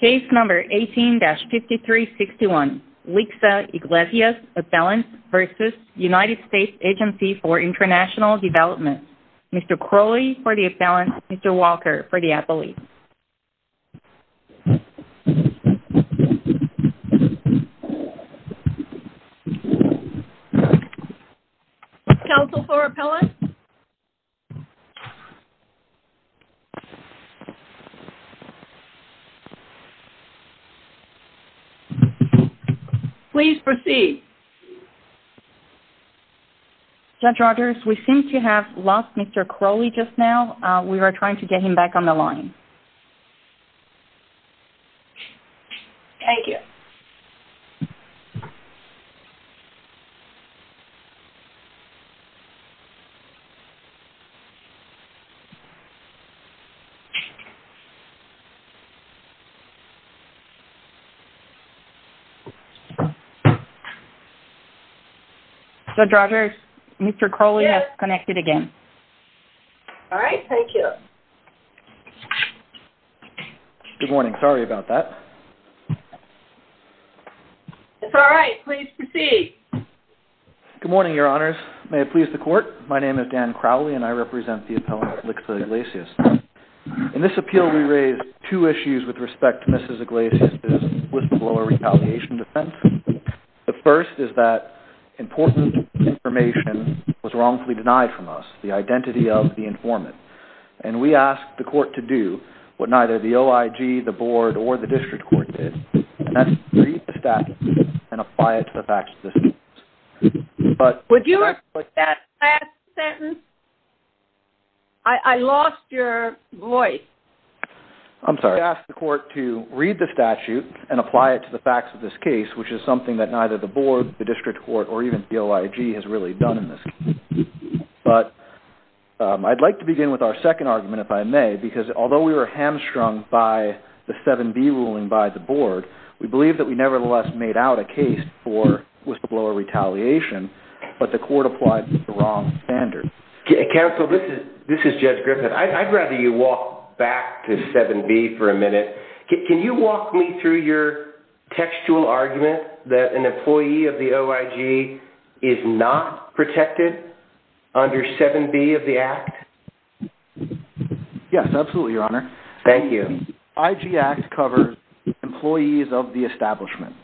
v. United States Agency for International Development. Mr. Crowley for the appellant, Mr. Walker for the appellate. Counsel for the appellant. Please proceed. Judge Rogers, we seem to have lost Mr. Crowley just now. We are trying to get him back on Thank you. Judge Rogers, Mr. Crowley has connected again. All right, thank you. Good morning. Sorry about that. It's all right. Please proceed. Good morning, Your Honors. May it please the court, my name is Dan Crowley and I represent the appellant Likza Iglesias. In this appeal, we raise two issues with respect to Mrs. Iglesias' whistleblower retaliation defense. The first is that important information was wrongfully denied from us, the identity of the informant. And we ask the court to do what neither the OIG, the board, or the district court did, and that's read the statute and apply it to the facts of this case. Would you repeat that last sentence? I lost your voice. I'm sorry. We ask the court to read the statute and apply it to the facts of this case, which is something that neither the board, the district court, or even the OIG has really done in this case. But I'd like to begin with our second argument, if I may, because although we were hamstrung by the 7B ruling by the board, we believe that we nevertheless made out a case for whistleblower retaliation, but the court applied the wrong standard. Counsel, this is Judge Griffin. I'd rather you walk back to 7B for a minute. Can you walk me through your textual argument that an employee of the OIG is not protected under 7B of the Act? Yes, absolutely, Your Honor. Thank you. IG Act covers employees of the establishment,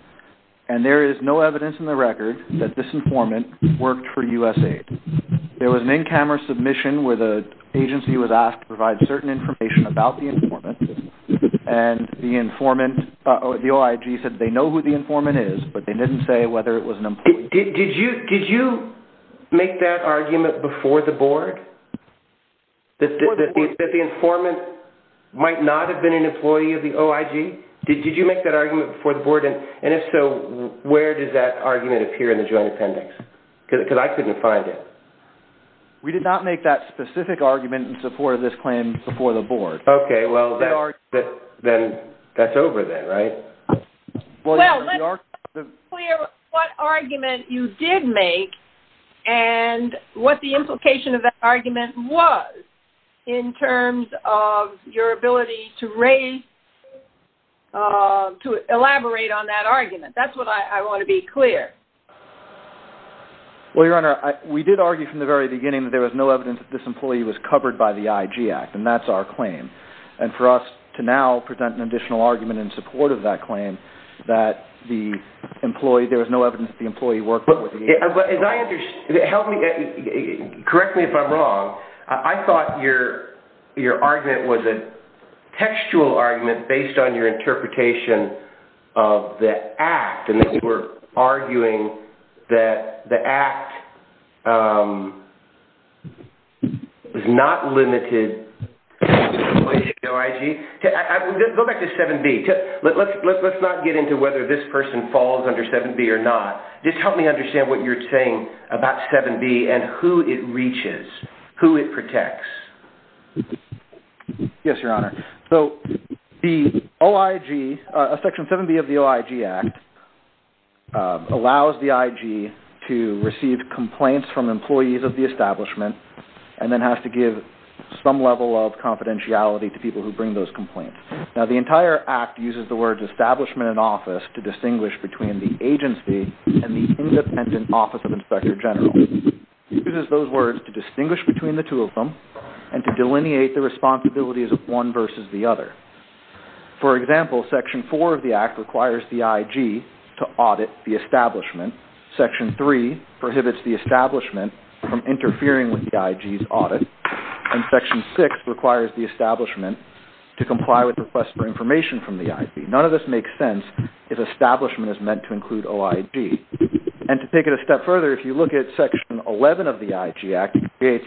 and there is no evidence in the record that this informant worked for USAID. There was an in-camera submission where the agency was asked to provide certain information about the informant, and the OIG said they know who the informant is, but they didn't say whether it was an employee. Did you make that argument before the board, that the informant might not have been an employee of the OIG? Did you make that argument before the board? And if so, where does that argument appear in the joint appendix? Because I couldn't find it. We did not make that specific argument in support of this claim before the board. Okay, well, then that's over then, right? Well, let's be clear what argument you did make and what the implication of that argument was, in terms of your ability to raise, to elaborate on that argument. That's what I want to be clear. Well, Your Honor, we did argue from the very beginning that there was no evidence that this employee was covered by the IG Act, and that's our claim. And for us to now present an additional argument in support of that claim, that the employee, there was no evidence that the employee worked with the agency. Correct me if I'm wrong. I thought your argument was a textual argument based on your interpretation of the Act, and that you were arguing that the Act was not limited to the employee of the OIG. Go back to 7B. Let's not get into whether this person falls under 7B or not. Just help me understand what you're saying about 7B and who it reaches, who it protects. Yes, Your Honor. So the OIG, Section 7B of the OIG Act, allows the IG to receive complaints from employees of the establishment and then has to give some level of confidentiality to people who bring those complaints. Now, the entire Act uses the words establishment and office to distinguish between the agency and the independent office of inspector general. It uses those words to distinguish between the two of them and to delineate the responsibilities of one versus the other. For example, Section 4 of the Act requires the IG to audit the establishment. Section 3 prohibits the establishment from interfering with the IG's audit. And Section 6 requires the establishment to comply with requests for information from the IG. None of this makes sense if establishment is meant to include OIG. And to take it a step further, if you look at Section 11 of the IG Act, it creates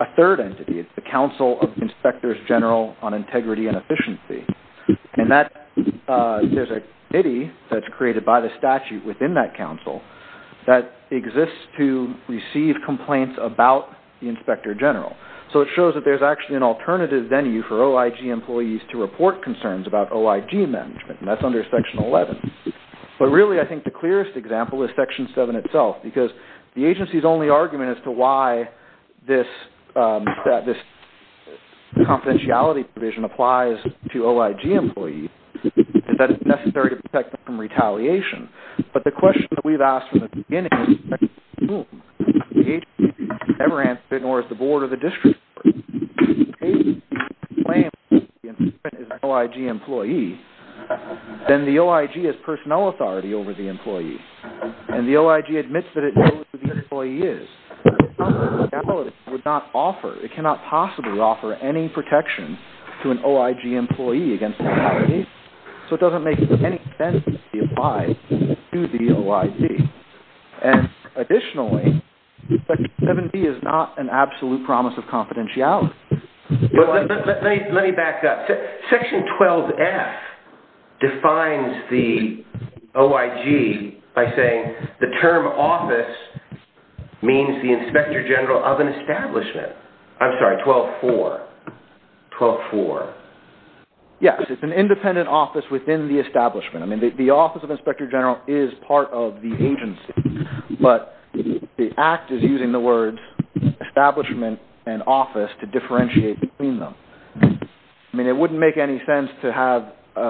a third entity. It's the Council of Inspectors General on Integrity and Efficiency. And there's a committee that's created by the statute within that council that exists to receive complaints about the inspector general. So it shows that there's actually an alternative venue for OIG employees to report concerns about OIG management, and that's under Section 11. But really, I think the clearest example is Section 7 itself because the agency's only argument as to why this confidentiality provision applies to OIG employees is that it's necessary to protect them from retaliation. But the question that we've asked from the beginning is who? The agency has never answered it, nor has the board or the district. If the agency claims that the incident is an OIG employee, then the OIG has personnel authority over the employee. And the OIG admits that it knows who the employee is. It's confidentiality would not offer, it cannot possibly offer any protection to an OIG employee against retaliation. So it doesn't make any sense to apply to the OIG. And additionally, Section 7b is not an absolute promise of confidentiality. Let me back up. Section 12f defines the OIG by saying the term office means the inspector general of an establishment. I'm sorry, 12-4. 12-4. Yes, it's an independent office within the establishment. I mean, the office of inspector general is part of the agency, but the Act is using the words establishment and office to differentiate between them. I mean, it wouldn't make any sense to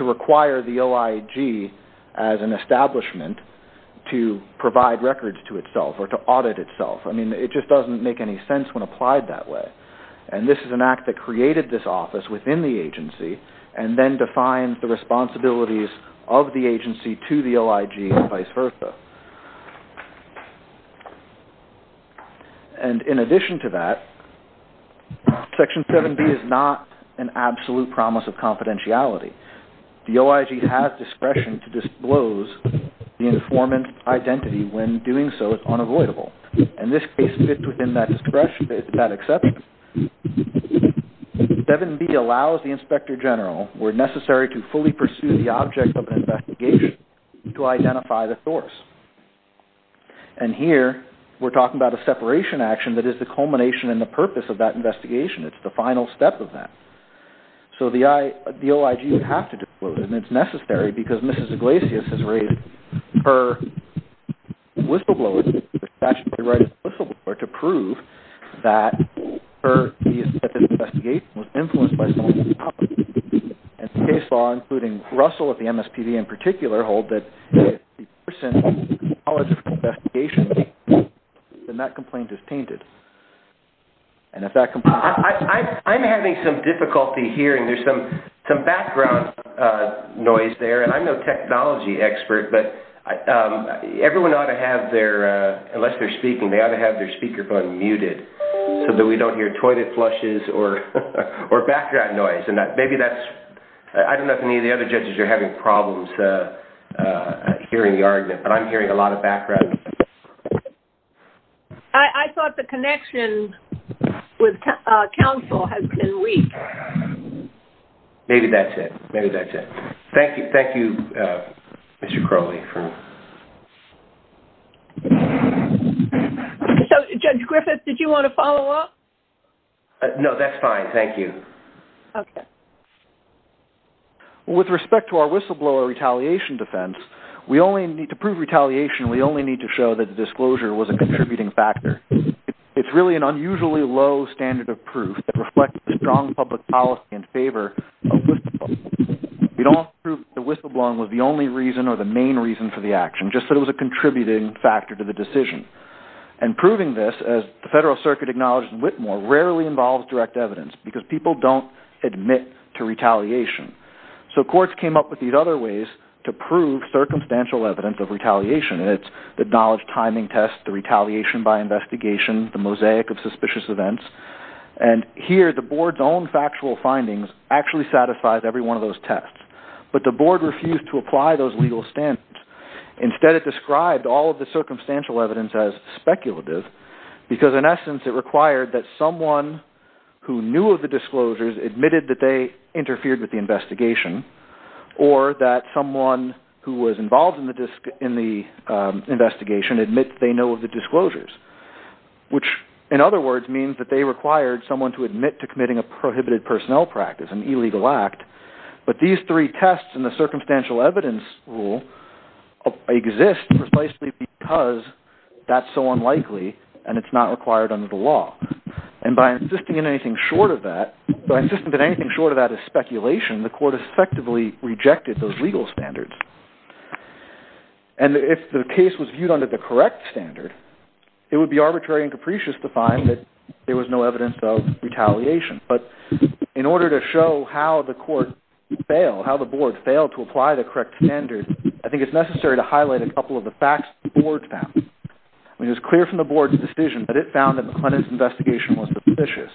require the OIG as an establishment to provide records to itself or to audit itself. I mean, it just doesn't make any sense when applied that way. And this is an Act that created this office within the agency and then defines the responsibilities of the agency to the OIG and vice versa. And in addition to that, Section 7b is not an absolute promise of confidentiality. The OIG has discretion to disclose the informant identity when doing so is unavoidable. And this case fits within that discretion, that exception. 7b allows the inspector general where necessary to fully pursue the object of an investigation to identify the source. And here we're talking about a separation action that is the culmination and the purpose of that investigation. It's the final step of that. So the OIG would have to disclose it, and it's necessary because Mrs. Iglesias has raised her whistleblower, her statutory right as a whistleblower, to prove that her investigation was influenced by someone else. And the case law, including Russell at the MSPB in particular, hold that if the person who was involved in the investigation then that complaint is tainted. I'm having some difficulty hearing. There's some background noise there. I'm no technology expert, but everyone ought to have their, unless they're speaking, they ought to have their speakerphone muted so that we don't hear toilet flushes or background noise. I don't know if any of the other judges are having problems hearing the argument, but I'm hearing a lot of background noise. I thought the connection with counsel has been weak. Maybe that's it. Maybe that's it. Thank you, Mr. Crowley. Judge Griffith, did you want to follow up? No, that's fine. Thank you. Okay. With respect to our whistleblower retaliation defense, we only need to prove retaliation, we only need to show that the disclosure was a contributing factor. It's really an unusually low standard of proof that reflects a strong public policy in favor of whistleblowing. We don't have to prove that whistleblowing was the only reason or the main reason for the action, just that it was a contributing factor to the decision. And proving this, as the Federal Circuit acknowledged in Whitmore, rarely involves direct evidence because people don't admit to retaliation. So courts came up with these other ways to prove circumstantial evidence of retaliation, and it's the acknowledged timing test, the retaliation by investigation, the mosaic of suspicious events, and here the board's own factual findings actually satisfied every one of those tests. But the board refused to apply those legal standards. Instead, it described all of the circumstantial evidence as speculative because, in essence, it required that someone who knew of the disclosures admitted that they interfered with the investigation or that someone who was involved in the investigation admit they know of the disclosures, which, in other words, means that they required someone to admit to committing a prohibited personnel practice, an illegal act. But these three tests in the circumstantial evidence rule exist precisely because that's so unlikely and it's not required under the law. And by insisting on anything short of that, by insisting that anything short of that is speculation, the court effectively rejected those legal standards. And if the case was viewed under the correct standard, it would be arbitrary and capricious to find that there was no evidence of retaliation. But in order to show how the board failed to apply the correct standard, I think it's necessary to highlight a couple of the facts the board found. It was clear from the board's decision that it found that McLennan's investigation was suspicious.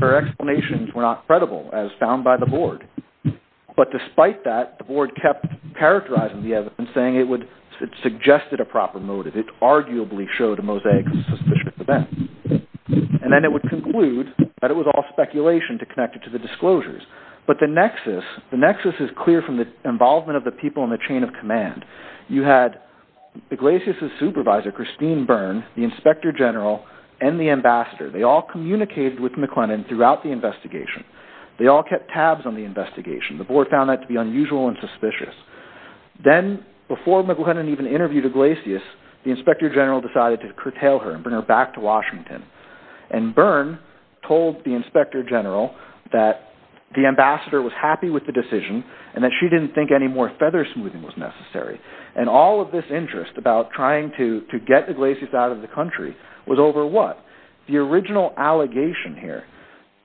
Her explanations were not credible as found by the board. But despite that, the board kept characterizing the evidence and saying it suggested a proper motive. It arguably showed a mosaic of a suspicious event. And then it would conclude that it was all speculation connected to the disclosures. But the nexus is clear from the involvement of the people in the chain of command. You had Iglesias' supervisor, Christine Byrne, the inspector general, and the ambassador. They all communicated with McLennan throughout the investigation. They all kept tabs on the investigation. The board found that to be unusual and suspicious. Then, before McLennan even interviewed Iglesias, the inspector general decided to curtail her and bring her back to Washington. And Byrne told the inspector general that the ambassador was happy with the decision and that she didn't think any more feather smoothing was necessary. And all of this interest about trying to get Iglesias out of the country was over what? The original allegation here,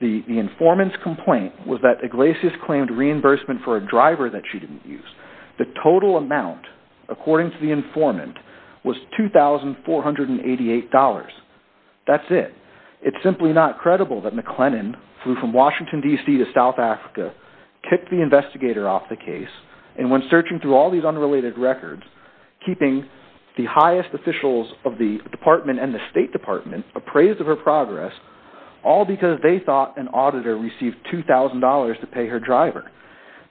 the informant's complaint, was that Iglesias claimed reimbursement for a driver that she didn't use. The total amount, according to the informant, was $2,488. That's it. It's simply not credible that McLennan flew from Washington, D.C., to South Africa, kicked the investigator off the case, and when searching through all these unrelated records, keeping the highest officials of the department and the State Department appraised of her progress, all because they thought an auditor received $2,000 to pay her driver.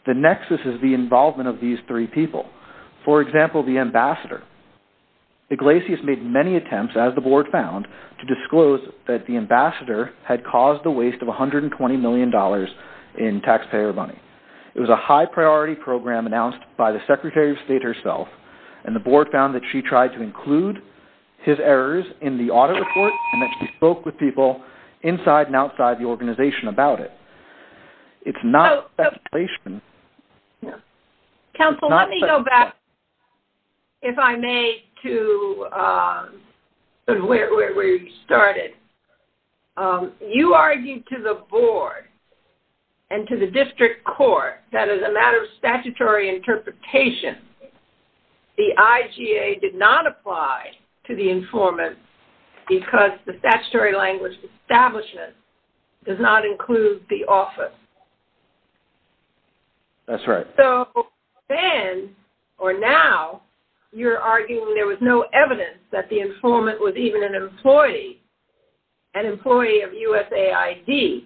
The nexus is the involvement of these three people. For example, the ambassador. Iglesias made many attempts, as the board found, to disclose that the ambassador had caused the waste of $120 million in taxpayer money. It was a high-priority program announced by the Secretary of State herself, and the board found that she tried to include his errors in the audit report and that she spoke with people inside and outside the organization about it. It's not speculation. Counsel, let me go back, if I may, to where you started. You argued to the board and to the district court that as a matter of statutory interpretation, the IGA did not apply to the informant because the statutory language establishment does not include the office. That's right. Then, or now, you're arguing there was no evidence that the informant was even an employee, an employee of USAID,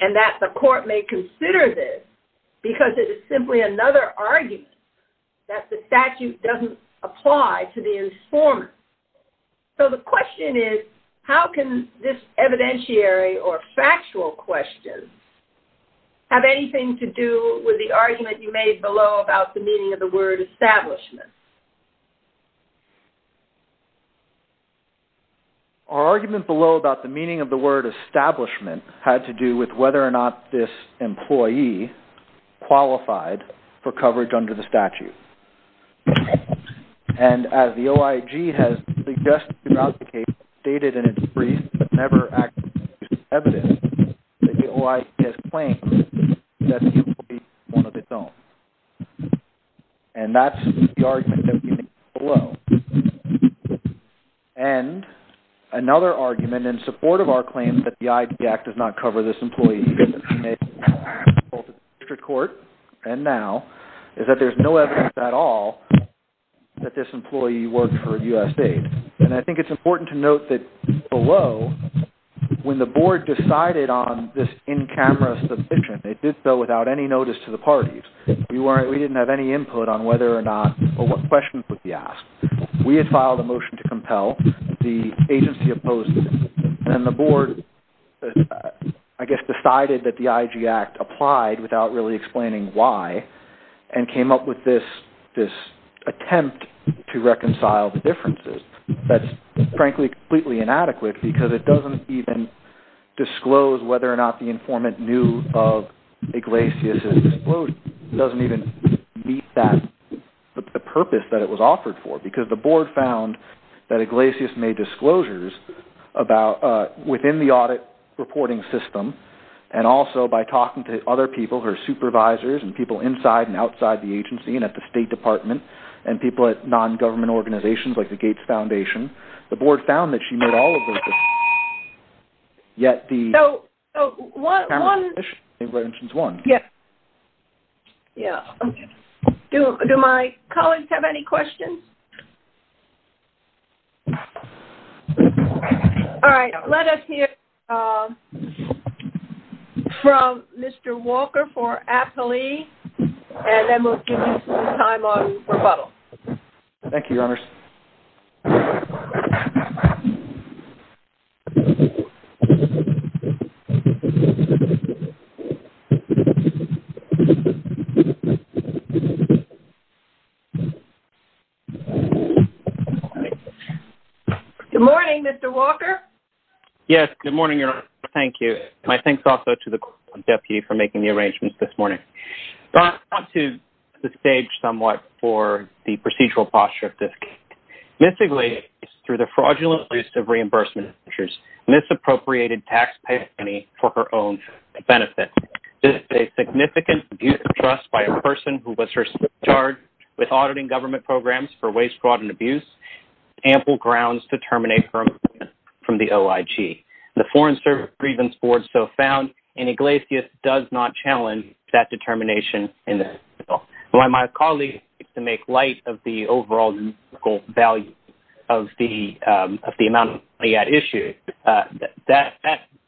and that the court may consider this because it is simply another argument that the statute doesn't apply to the informant. So the question is, how can this evidentiary or factual question have anything to do with the argument you made below about the meaning of the word establishment? Our argument below about the meaning of the word establishment had to do with whether or not this employee qualified for coverage under the statute. And as the OIG has suggested throughout the case, stated in its brief, but never actually produced evidence that the OIG has claimed that the employee is one of its own. And that's the argument that we made below. And another argument in support of our claim that the IGA does not cover this employee, both in the district court and now, is that there's no evidence at all that this employee worked for USAID. And I think it's important to note that below, when the board decided on this in-camera submission, it did so without any notice to the parties. We didn't have any input on whether or not, or what questions would be asked. We had filed a motion to compel, the agency opposed it. And the board, I guess, decided that the IG Act applied without really explaining why, and came up with this attempt to reconcile the differences. That's, frankly, completely inadequate because it doesn't even disclose whether or not the informant knew of Iglesias' disclosure. It doesn't even meet the purpose that it was offered for, because the board found that Iglesias made disclosures within the audit reporting system, and also by talking to other people, her supervisors, and people inside and outside the agency, and at the State Department, and people at non-government organizations like the Gates Foundation. The board found that she made all of those disclosures, yet the in-camera submission was one. Do my colleagues have any questions? All right. Let us hear from Mr. Walker for appellee, and then we'll give you some time on rebuttal. Good morning, Mr. Walker. Yes, good morning, Your Honor. Thank you. My thanks also to the Deputy for making the arrangements this morning. I'll talk to the stage somewhat for the procedural posture of this case. Miss Iglesias, through the fraudulent use of reimbursement measures, misappropriated taxpayer money for her own benefit. This is a significant abuse of trust by a person who was her sub-charge with auditing government programs for waste, fraud, and abuse. Ample grounds to terminate her employment from the OIG. The Foreign Service Grievance Board so found, and Iglesias does not challenge that determination. My colleague, to make light of the overall value of the amount of money at issue, that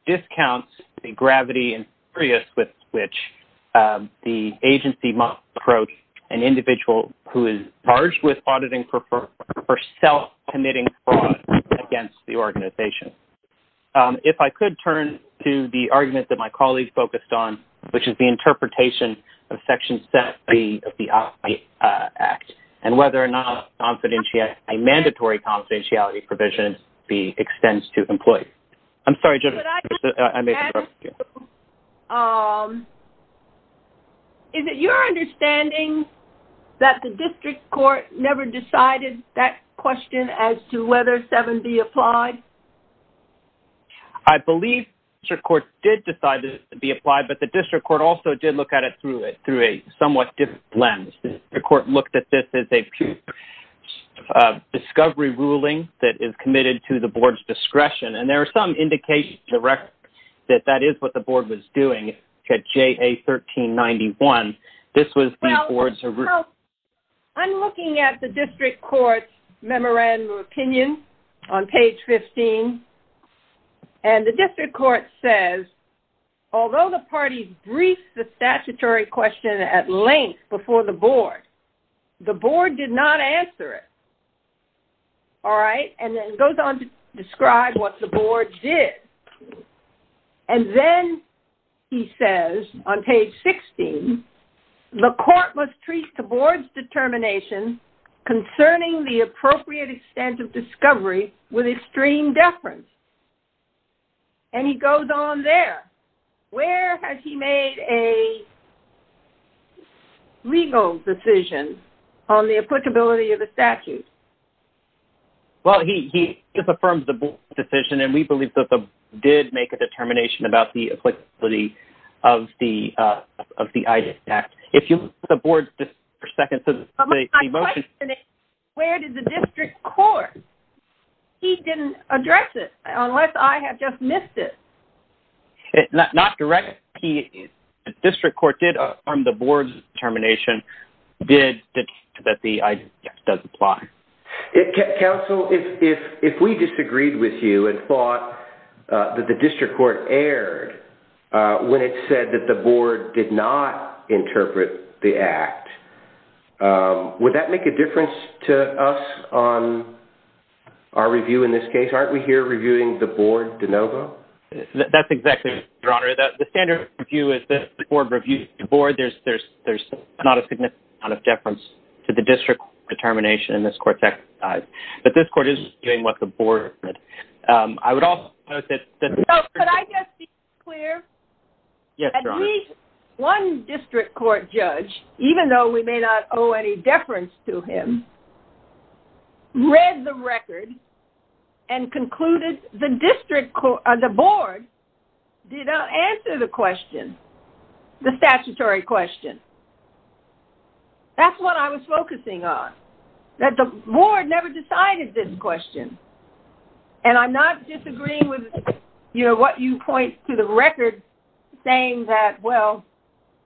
discounts the gravity and seriousness with which the agency must approach an individual who is charged with auditing for self-committing fraud against the organization. If I could turn to the argument that my colleague focused on, which is the interpretation of Section 7B of the OIG Act, and whether or not a mandatory confidentiality provision extends to employees. I'm sorry, Jennifer, I made a mistake. Is it your understanding that the district court never decided that question as to whether 7B applied? I believe the district court did decide that it would be applied, but the district court also did look at it through a somewhat different lens. The district court looked at this as a discovery ruling that is committed to the board's discretion, and there are some indications that that is what the board was doing. At JA 1391, this was the board's... I'm looking at the district court's memorandum of opinion on page 15, and the district court says, Although the parties briefed the statutory question at length before the board, the board did not answer it. All right? And then it goes on to describe what the board did. And then he says on page 16, The court must treat the board's determination concerning the appropriate extent of discovery with extreme deference. And he goes on there. Where has he made a legal decision on the applicability of the statute? Well, he just affirms the board's decision, and we believe that the board did make a determination about the applicability of the IDES Act. If you look at the board's decision for a second... But my question is, where did the district court? He didn't address it, unless I have just missed it. Not directly. The district court did affirm the board's determination that the IDES Act does apply. Counsel, if we disagreed with you and thought that the district court erred when it said that the board did not interpret the Act, would that make a difference to us on our review in this case? Aren't we here reviewing the board de novo? That's exactly right, Your Honor. The standard review is that the board reviews the board. There's not a significant amount of deference to the district court determination in this court's exercise. But this court is reviewing what the board did. I would also note that... So could I just be clear? Yes, Your Honor. At least one district court judge, even though we may not owe any deference to him, read the record and concluded the board did not answer the question, the statutory question. That's what I was focusing on, that the board never decided this question. And I'm not disagreeing with what you point to the record saying that, well,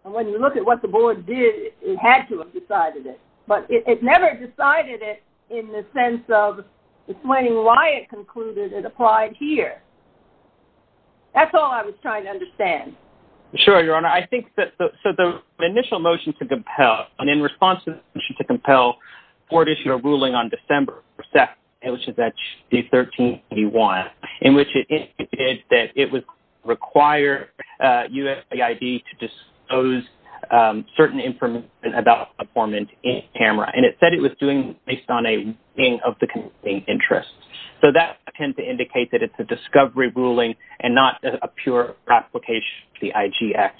when you look at what the board did, it had to have decided it. But it never decided it in the sense of explaining why it concluded it applied here. That's all I was trying to understand. Sure, Your Honor. I think that the initial motion to compel, and in response to the motion to compel board issue a ruling on December 2nd, which is that day 1381, in which it indicated that it would require USAID to disclose certain information about performance in camera. And it said it was doing it based on a ruling of the committee's interest. So that tends to indicate that it's a discovery ruling and not a pure application of the IGX.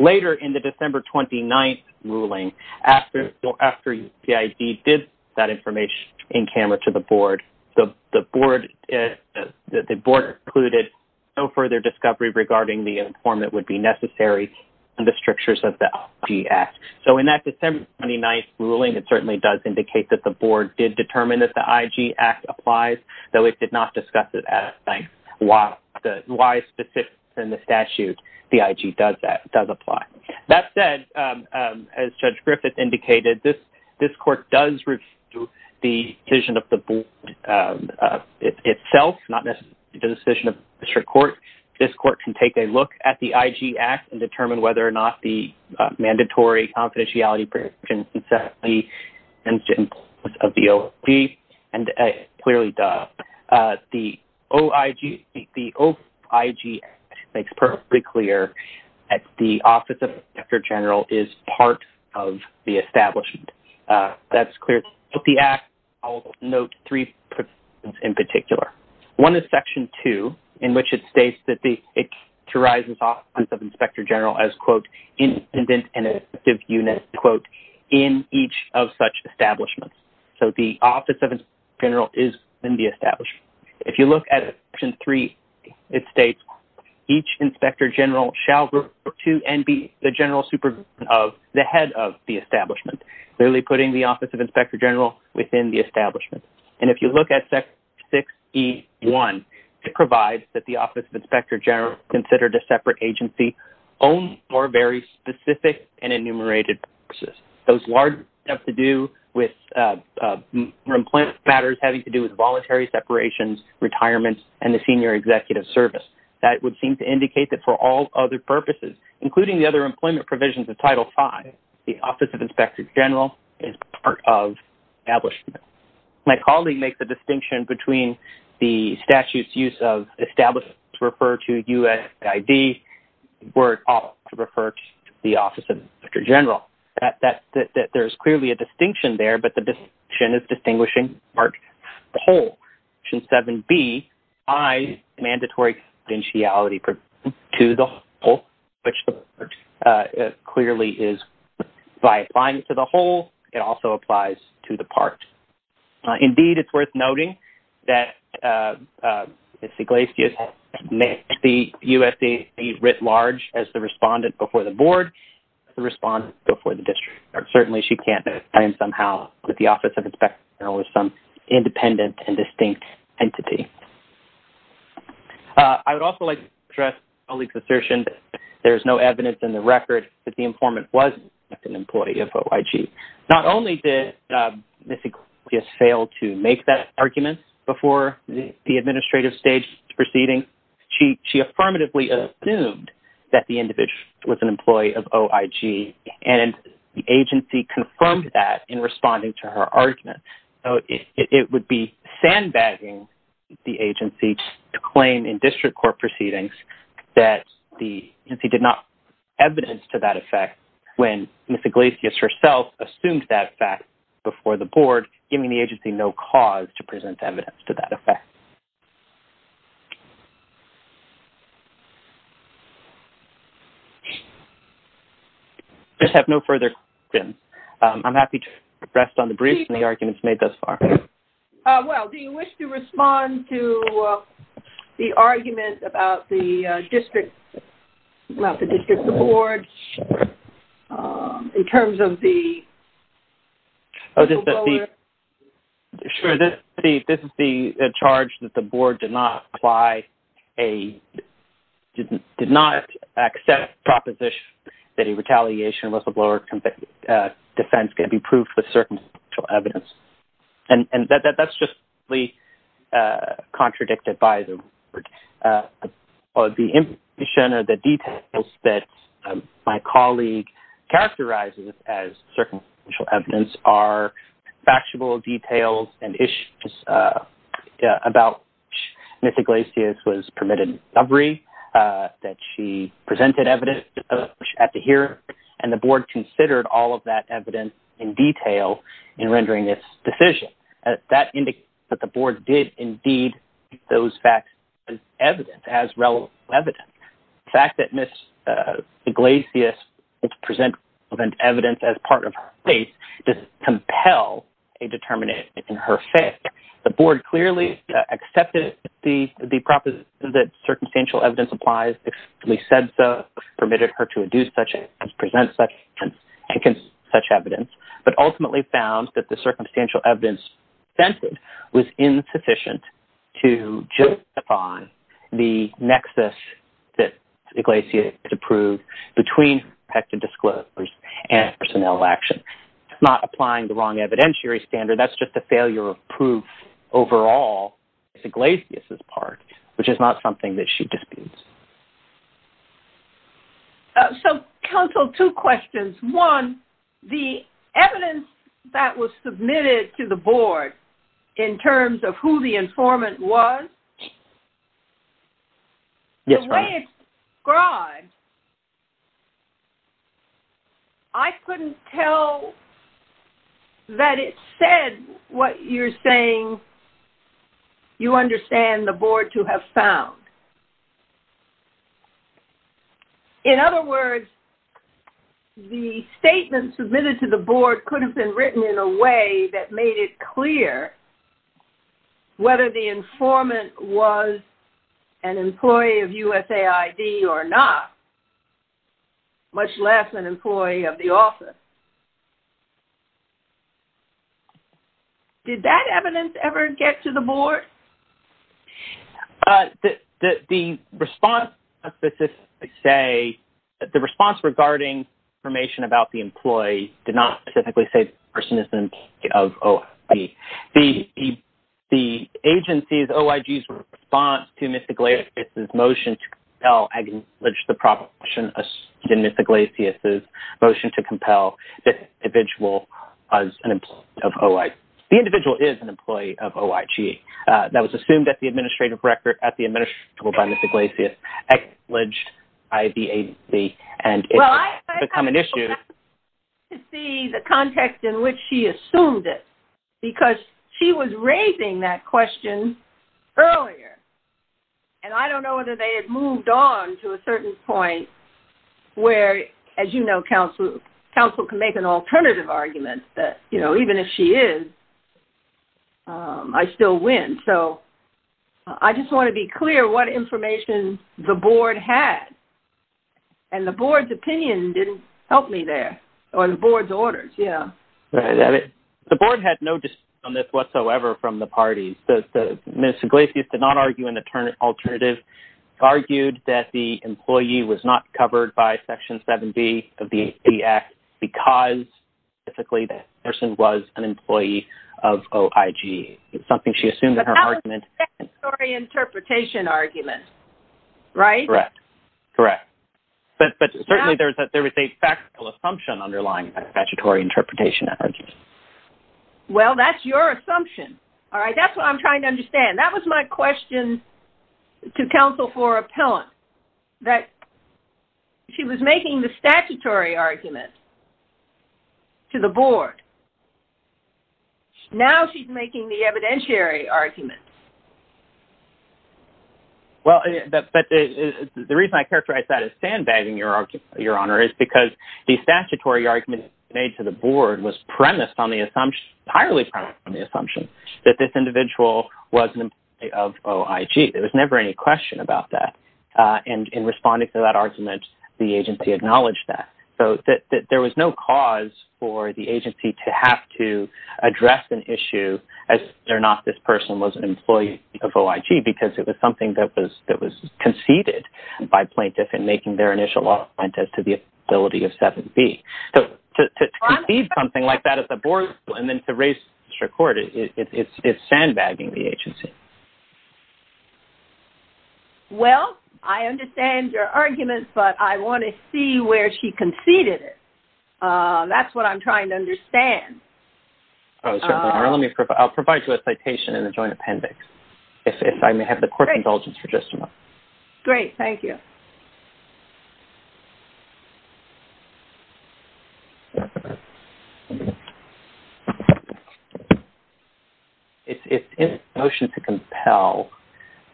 Later, in the December 29th ruling, after USAID did that information in camera to the board, the board concluded no further discovery regarding the inform that would be necessary in the strictures of the IG Act. So in that December 29th ruling, it certainly does indicate that the board did determine that the IG Act applies, though it did not discuss it as why specifically in the statute the IG does apply. That said, as Judge Griffith indicated, this court does review the decision of the board itself, not necessarily the decision of the district court. This court can take a look at the IG Act and determine whether or not the mandatory confidentiality provisions of the OIG, and it clearly does. The OIG Act makes perfectly clear that the Office of Inspector General is part of the establishment. That's clear. With the Act, I'll note three provisions in particular. One is Section 2, in which it states that it characterizes Office of Inspector General as, quote, in each of such establishments. So the Office of Inspector General is in the establishment. If you look at Section 3, it states, clearly putting the Office of Inspector General within the establishment. And if you look at Section 6E1, it provides that the Office of Inspector General, considered a separate agency, owns four very specific and enumerated purposes. Those large have to do with employment matters having to do with voluntary separations, retirement, and the senior executive service. That would seem to indicate that for all other purposes, including the other employment provisions of Title V, the Office of Inspector General is part of the establishment. My colleague makes a distinction between the statute's use of establishments to refer to U.S. ID where it ought to refer to the Office of Inspector General. There is clearly a distinction there, but the distinction is distinguishing the part from the whole. Section 7B, I, mandatory confidentiality to the whole, which clearly is, by applying to the whole, it also applies to the part. Indeed, it's worth noting that Ms. Iglesias makes the U.S. ID writ large as the respondent before the board, the respondent before the district. Certainly she can't claim somehow that the Office of Inspector General is some independent and distinct entity. I would also like to address my colleague's assertion that there is no evidence in the record that the informant was an employee of OIG. Not only did Ms. Iglesias fail to make that argument before the administrative stage proceeding, she affirmatively assumed that the individual was an employee of OIG, and the agency confirmed that in responding to her argument. It would be sandbagging the agency to claim in district court proceedings that the agency did not have evidence to that effect when Ms. Iglesias herself assumed that fact before the board, giving the agency no cause to present evidence to that effect. I just have no further questions. I'm happy to rest on the briefs and the arguments made thus far. Well, do you wish to respond to the argument about the district board in terms of the whistleblower? Sure. This is the charge that the board did not apply, did not accept the proposition that a retaliation whistleblower defense can be proved with circumstantial evidence. And that's just contradicted by the board. The information or the details that my colleague characterizes as circumstantial evidence are factual details and issues about which Ms. Iglesias was permitted recovery, that she presented evidence at the hearing, and the board considered all of that evidence in detail in rendering this decision. That indicates that the board did indeed take those facts as evidence, as relevant evidence. The fact that Ms. Iglesias presented evidence as part of her case does compel a determination in her face. The board clearly accepted the proposition that circumstantial evidence applies. If we said so, permitted her to induce such evidence, present such evidence, but ultimately found that the circumstantial evidence was insufficient to justify the nexus that Iglesias had approved between protected disclosures and personnel action. It's not applying the wrong evidentiary standard. And that's just a failure of proof overall. It's Iglesias' part, which is not something that she disputes. So, counsel, two questions. One, the evidence that was submitted to the board in terms of who the informant was, the way it's described, I couldn't tell that it said what you're saying you understand the board to have found. In other words, the statement submitted to the board could have been written in a way that made it clear whether the informant was an employee of USAID or not, much less an employee of the office. Did that evidence ever get to the board? The response regarding information about the employee did not specifically say the person is an employee of OIG. The agency's, OIG's response to Ms. Iglesias' motion to compel, I acknowledge the proposition in Ms. Iglesias' motion to compel the individual as an employee of OIG. The individual is an employee of OIG. That was assumed at the administrative record by Ms. Iglesias, alleged by the agency, and it's a common issue. Well, I'd like to see the context in which she assumed it, because she was raising that question earlier. And I don't know whether they had moved on to a certain point where, as you know, counsel can make an alternative argument that, you know, even if she is, I still win. So I just want to be clear what information the board had. And the board's opinion didn't help me there, or the board's orders, yeah. The board had no dispute on this whatsoever from the parties. Ms. Iglesias did not argue an alternative. She argued that the employee was not covered by Section 7B of the AP Act because, basically, that person was an employee of OIG. It's something she assumed in her argument. But that was a statutory interpretation argument, right? Correct, correct. But certainly there was a factual assumption underlying that statutory interpretation argument. Well, that's your assumption. All right, that's what I'm trying to understand. That was my question to counsel for appellant, that she was making the statutory argument to the board. Now she's making the evidentiary argument. Well, the reason I characterize that as sandbagging, Your Honor, is because the statutory argument made to the board was premised on the assumption, entirely premised on the assumption that this individual was an employee of OIG. There was never any question about that. And in responding to that argument, the agency acknowledged that. So there was no cause for the agency to have to address an issue as to whether or not this person was an employee of OIG because it was something that was conceded by plaintiffs in making their initial argument as to the ability of 7B. So to concede something like that at the board level and then to raise it to court, it's sandbagging the agency. Well, I understand your argument, but I want to see where she conceded it. That's what I'm trying to understand. Certainly, Your Honor. I'll provide you a citation and a joint appendix if I may have the court's indulgence for just a moment. Great, thank you. It's in the motion to compel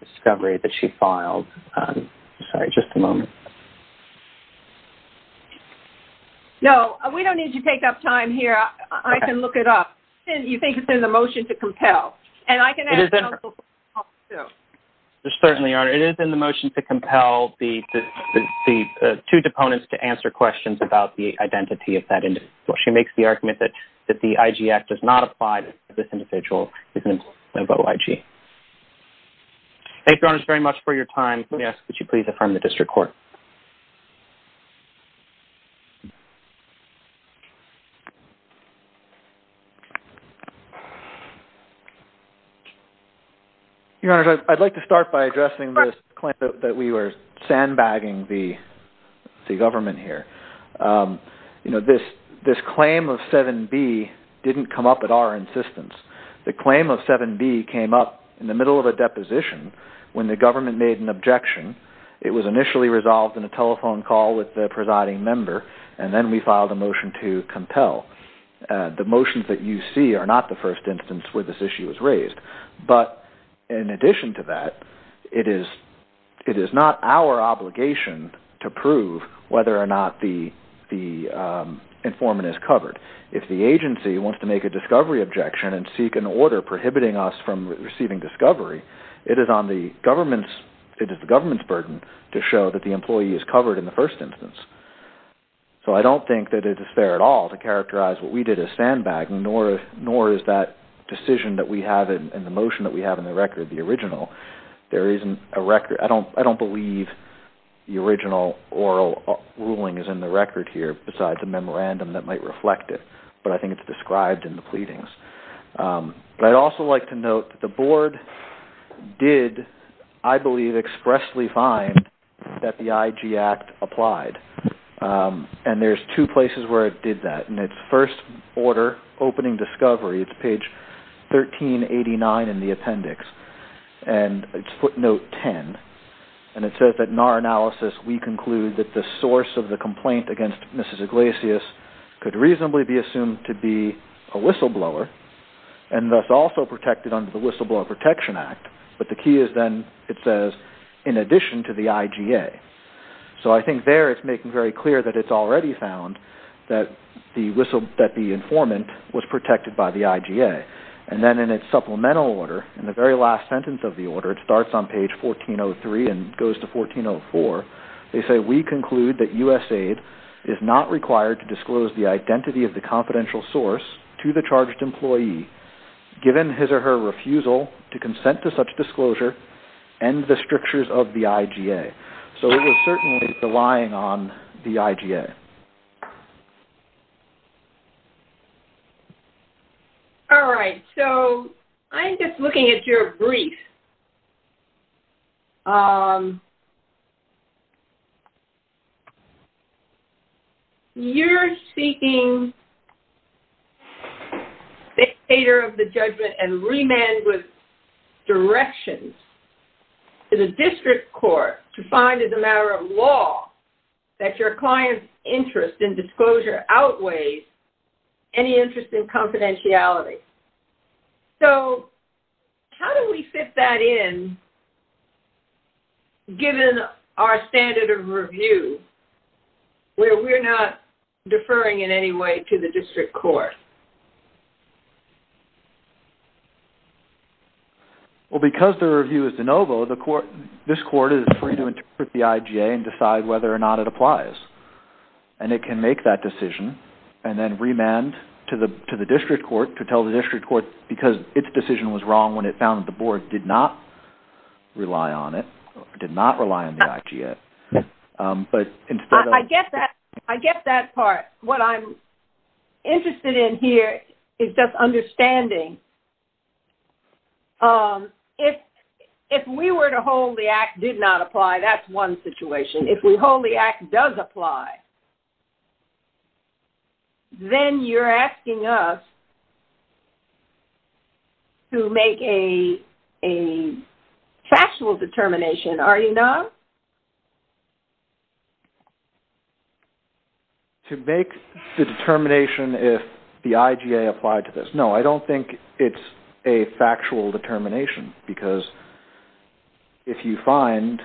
discovery that she filed. Sorry, just a moment. No, we don't need you to take up time here. I can look it up. You think it's in the motion to compel. And I can ask counsel to look it up, too. Certainly, Your Honor. It is in the motion to compel the two deponents to answer questions about the identity of that individual. She makes the argument that the IG Act does not apply to this individual who is an employee of OIG. Thank you, Your Honor, very much for your time. Let me ask that you please affirm the district court. Your Honor, I'd like to start by addressing this claim that we were sandbagging the government here. This claim of 7B didn't come up at our insistence. The claim of 7B came up in the middle of a deposition when the government made an objection. It was initially resolved in a telephone call with the presiding member, and then we filed a motion to compel. The motions that you see are not the first instance where this issue was raised. But in addition to that, it is not our obligation to prove whether or not the informant is covered. If the agency wants to make a discovery objection and seek an order prohibiting us from receiving discovery, it is the government's burden to show that the employee is covered in the first instance. So I don't think that it is fair at all to characterize what we did as sandbagging, nor is that decision that we have in the motion that we have in the record, the original. I don't believe the original oral ruling is in the record here, besides a memorandum that might reflect it. But I think it's described in the pleadings. But I'd also like to note that the board did, I believe, expressly find that the IG Act applied. And there's two places where it did that. In its first order, opening discovery, it's page 1389 in the appendix. And it's footnote 10. And it says that in our analysis, we conclude that the source of the complaint against Mrs. Iglesias could reasonably be assumed to be a whistleblower and thus also protected under the Whistleblower Protection Act. But the key is then, it says, in addition to the IGA. So I think there it's making very clear that it's already found that the informant was protected by the IGA. And then in its supplemental order, in the very last sentence of the order, it starts on page 1403 and goes to 1404. They say, we conclude that USAID is not required to disclose the identity of the confidential source to the charged employee, given his or her refusal to consent to such disclosure and the strictures of the IGA. So it is certainly relying on the IGA. All right. So I'm just looking at your brief. You're seeking dictator of the judgment and remand with directions to the district court to find as a matter of law that your client's interest in disclosure outweighs any interest in confidentiality. So how do we fit that in, given our standard of review, where we're not deferring in any way to the district court? Well, because the review is de novo, this court is free to interpret the IGA and decide whether or not it applies. And it can make that decision and then remand to the district court to tell the district court because its decision was wrong when it found that the board did not rely on it, did not rely on the IGA. I get that part. What I'm interested in here is just understanding, if we were to hold the act did not apply, that's one situation. If we hold the act does apply, then you're asking us to make a factual determination, are you not? To make the determination if the IGA applied to this. No, I don't think it's a factual determination because if you find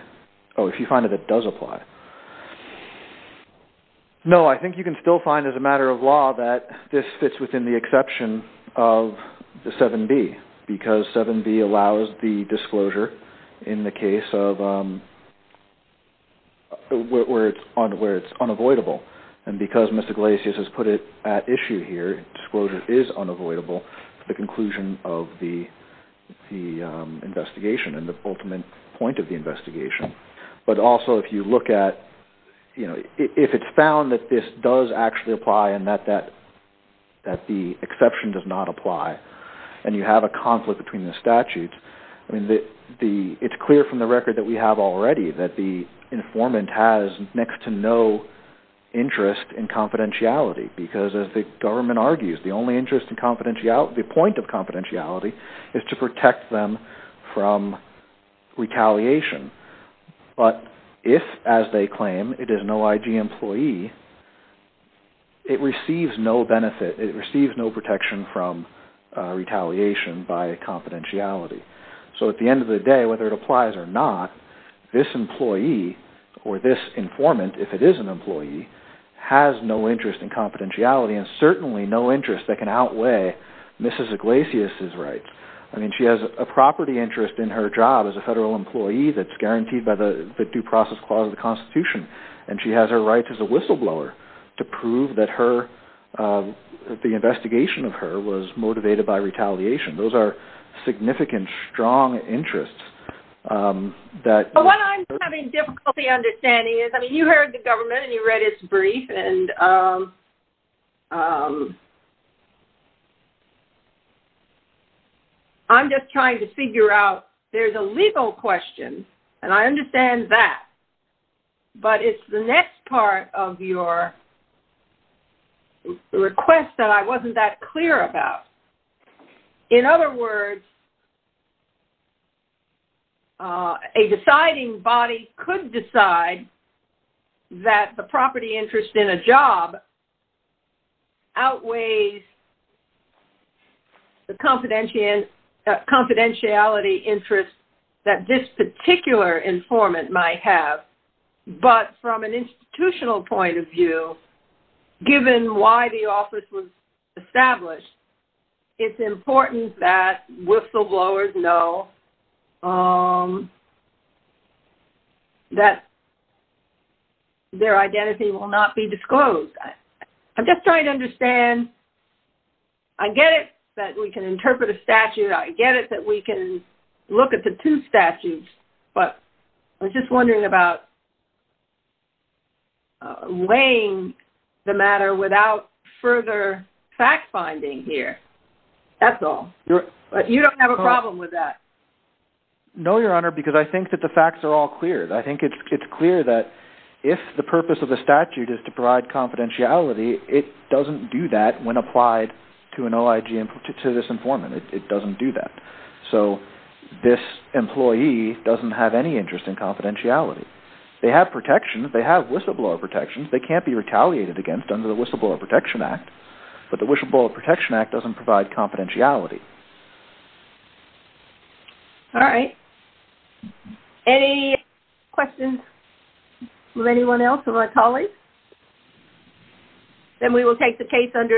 that it does apply. No, I think you can still find as a matter of law that this fits within the exception of the 7B because 7B allows the disclosure in the case where it's unavoidable. And because Mr. Glacius has put it at issue here, disclosure is unavoidable to the conclusion of the investigation and the ultimate point of the investigation. But also if you look at, if it's found that this does actually apply and that the exception does not apply and you have a conflict between the statutes, it's clear from the record that we have already that the informant has next to no interest in confidentiality because as the government argues, the only interest in confidentiality, the point of confidentiality is to protect them from retaliation. But if, as they claim, it is no IG employee, it receives no benefit. It receives no protection from retaliation by confidentiality. So at the end of the day, whether it applies or not, this employee or this informant, if it is an employee, has no interest in confidentiality and certainly no interest that can outweigh Mrs. Glacius's rights. I mean, she has a property interest in her job as a federal employee that's guaranteed by the due process clause of the Constitution and she has her rights as a whistleblower to prove that her, the investigation of her was motivated by retaliation. Those are significant, strong interests that... I'm just trying to figure out, there's a legal question and I understand that. But it's the next part of your request that I wasn't that clear about. In other words, a deciding body could decide that the property interest in a job outweighs the confidentiality interest that this particular informant might have. But from an institutional point of view, given why the office was established, it's important that whistleblowers know that their identity will not be disclosed. I'm just trying to understand. I get it that we can interpret a statute. I get it that we can look at the two statutes. But I was just wondering about weighing the matter without further fact-finding here. That's all. You don't have a problem with that? No, Your Honor, because I think that the facts are all clear. I think it's clear that if the purpose of the statute is to provide confidentiality, it doesn't do that when applied to an OIG, to this informant. It doesn't do that. So this employee doesn't have any interest in confidentiality. They have protections. They have whistleblower protections. They can't be retaliated against under the Whistleblower Protection Act. But the Whistleblower Protection Act doesn't provide confidentiality. All right. Any questions of anyone else, of our colleagues? Then we will take the case under advisement.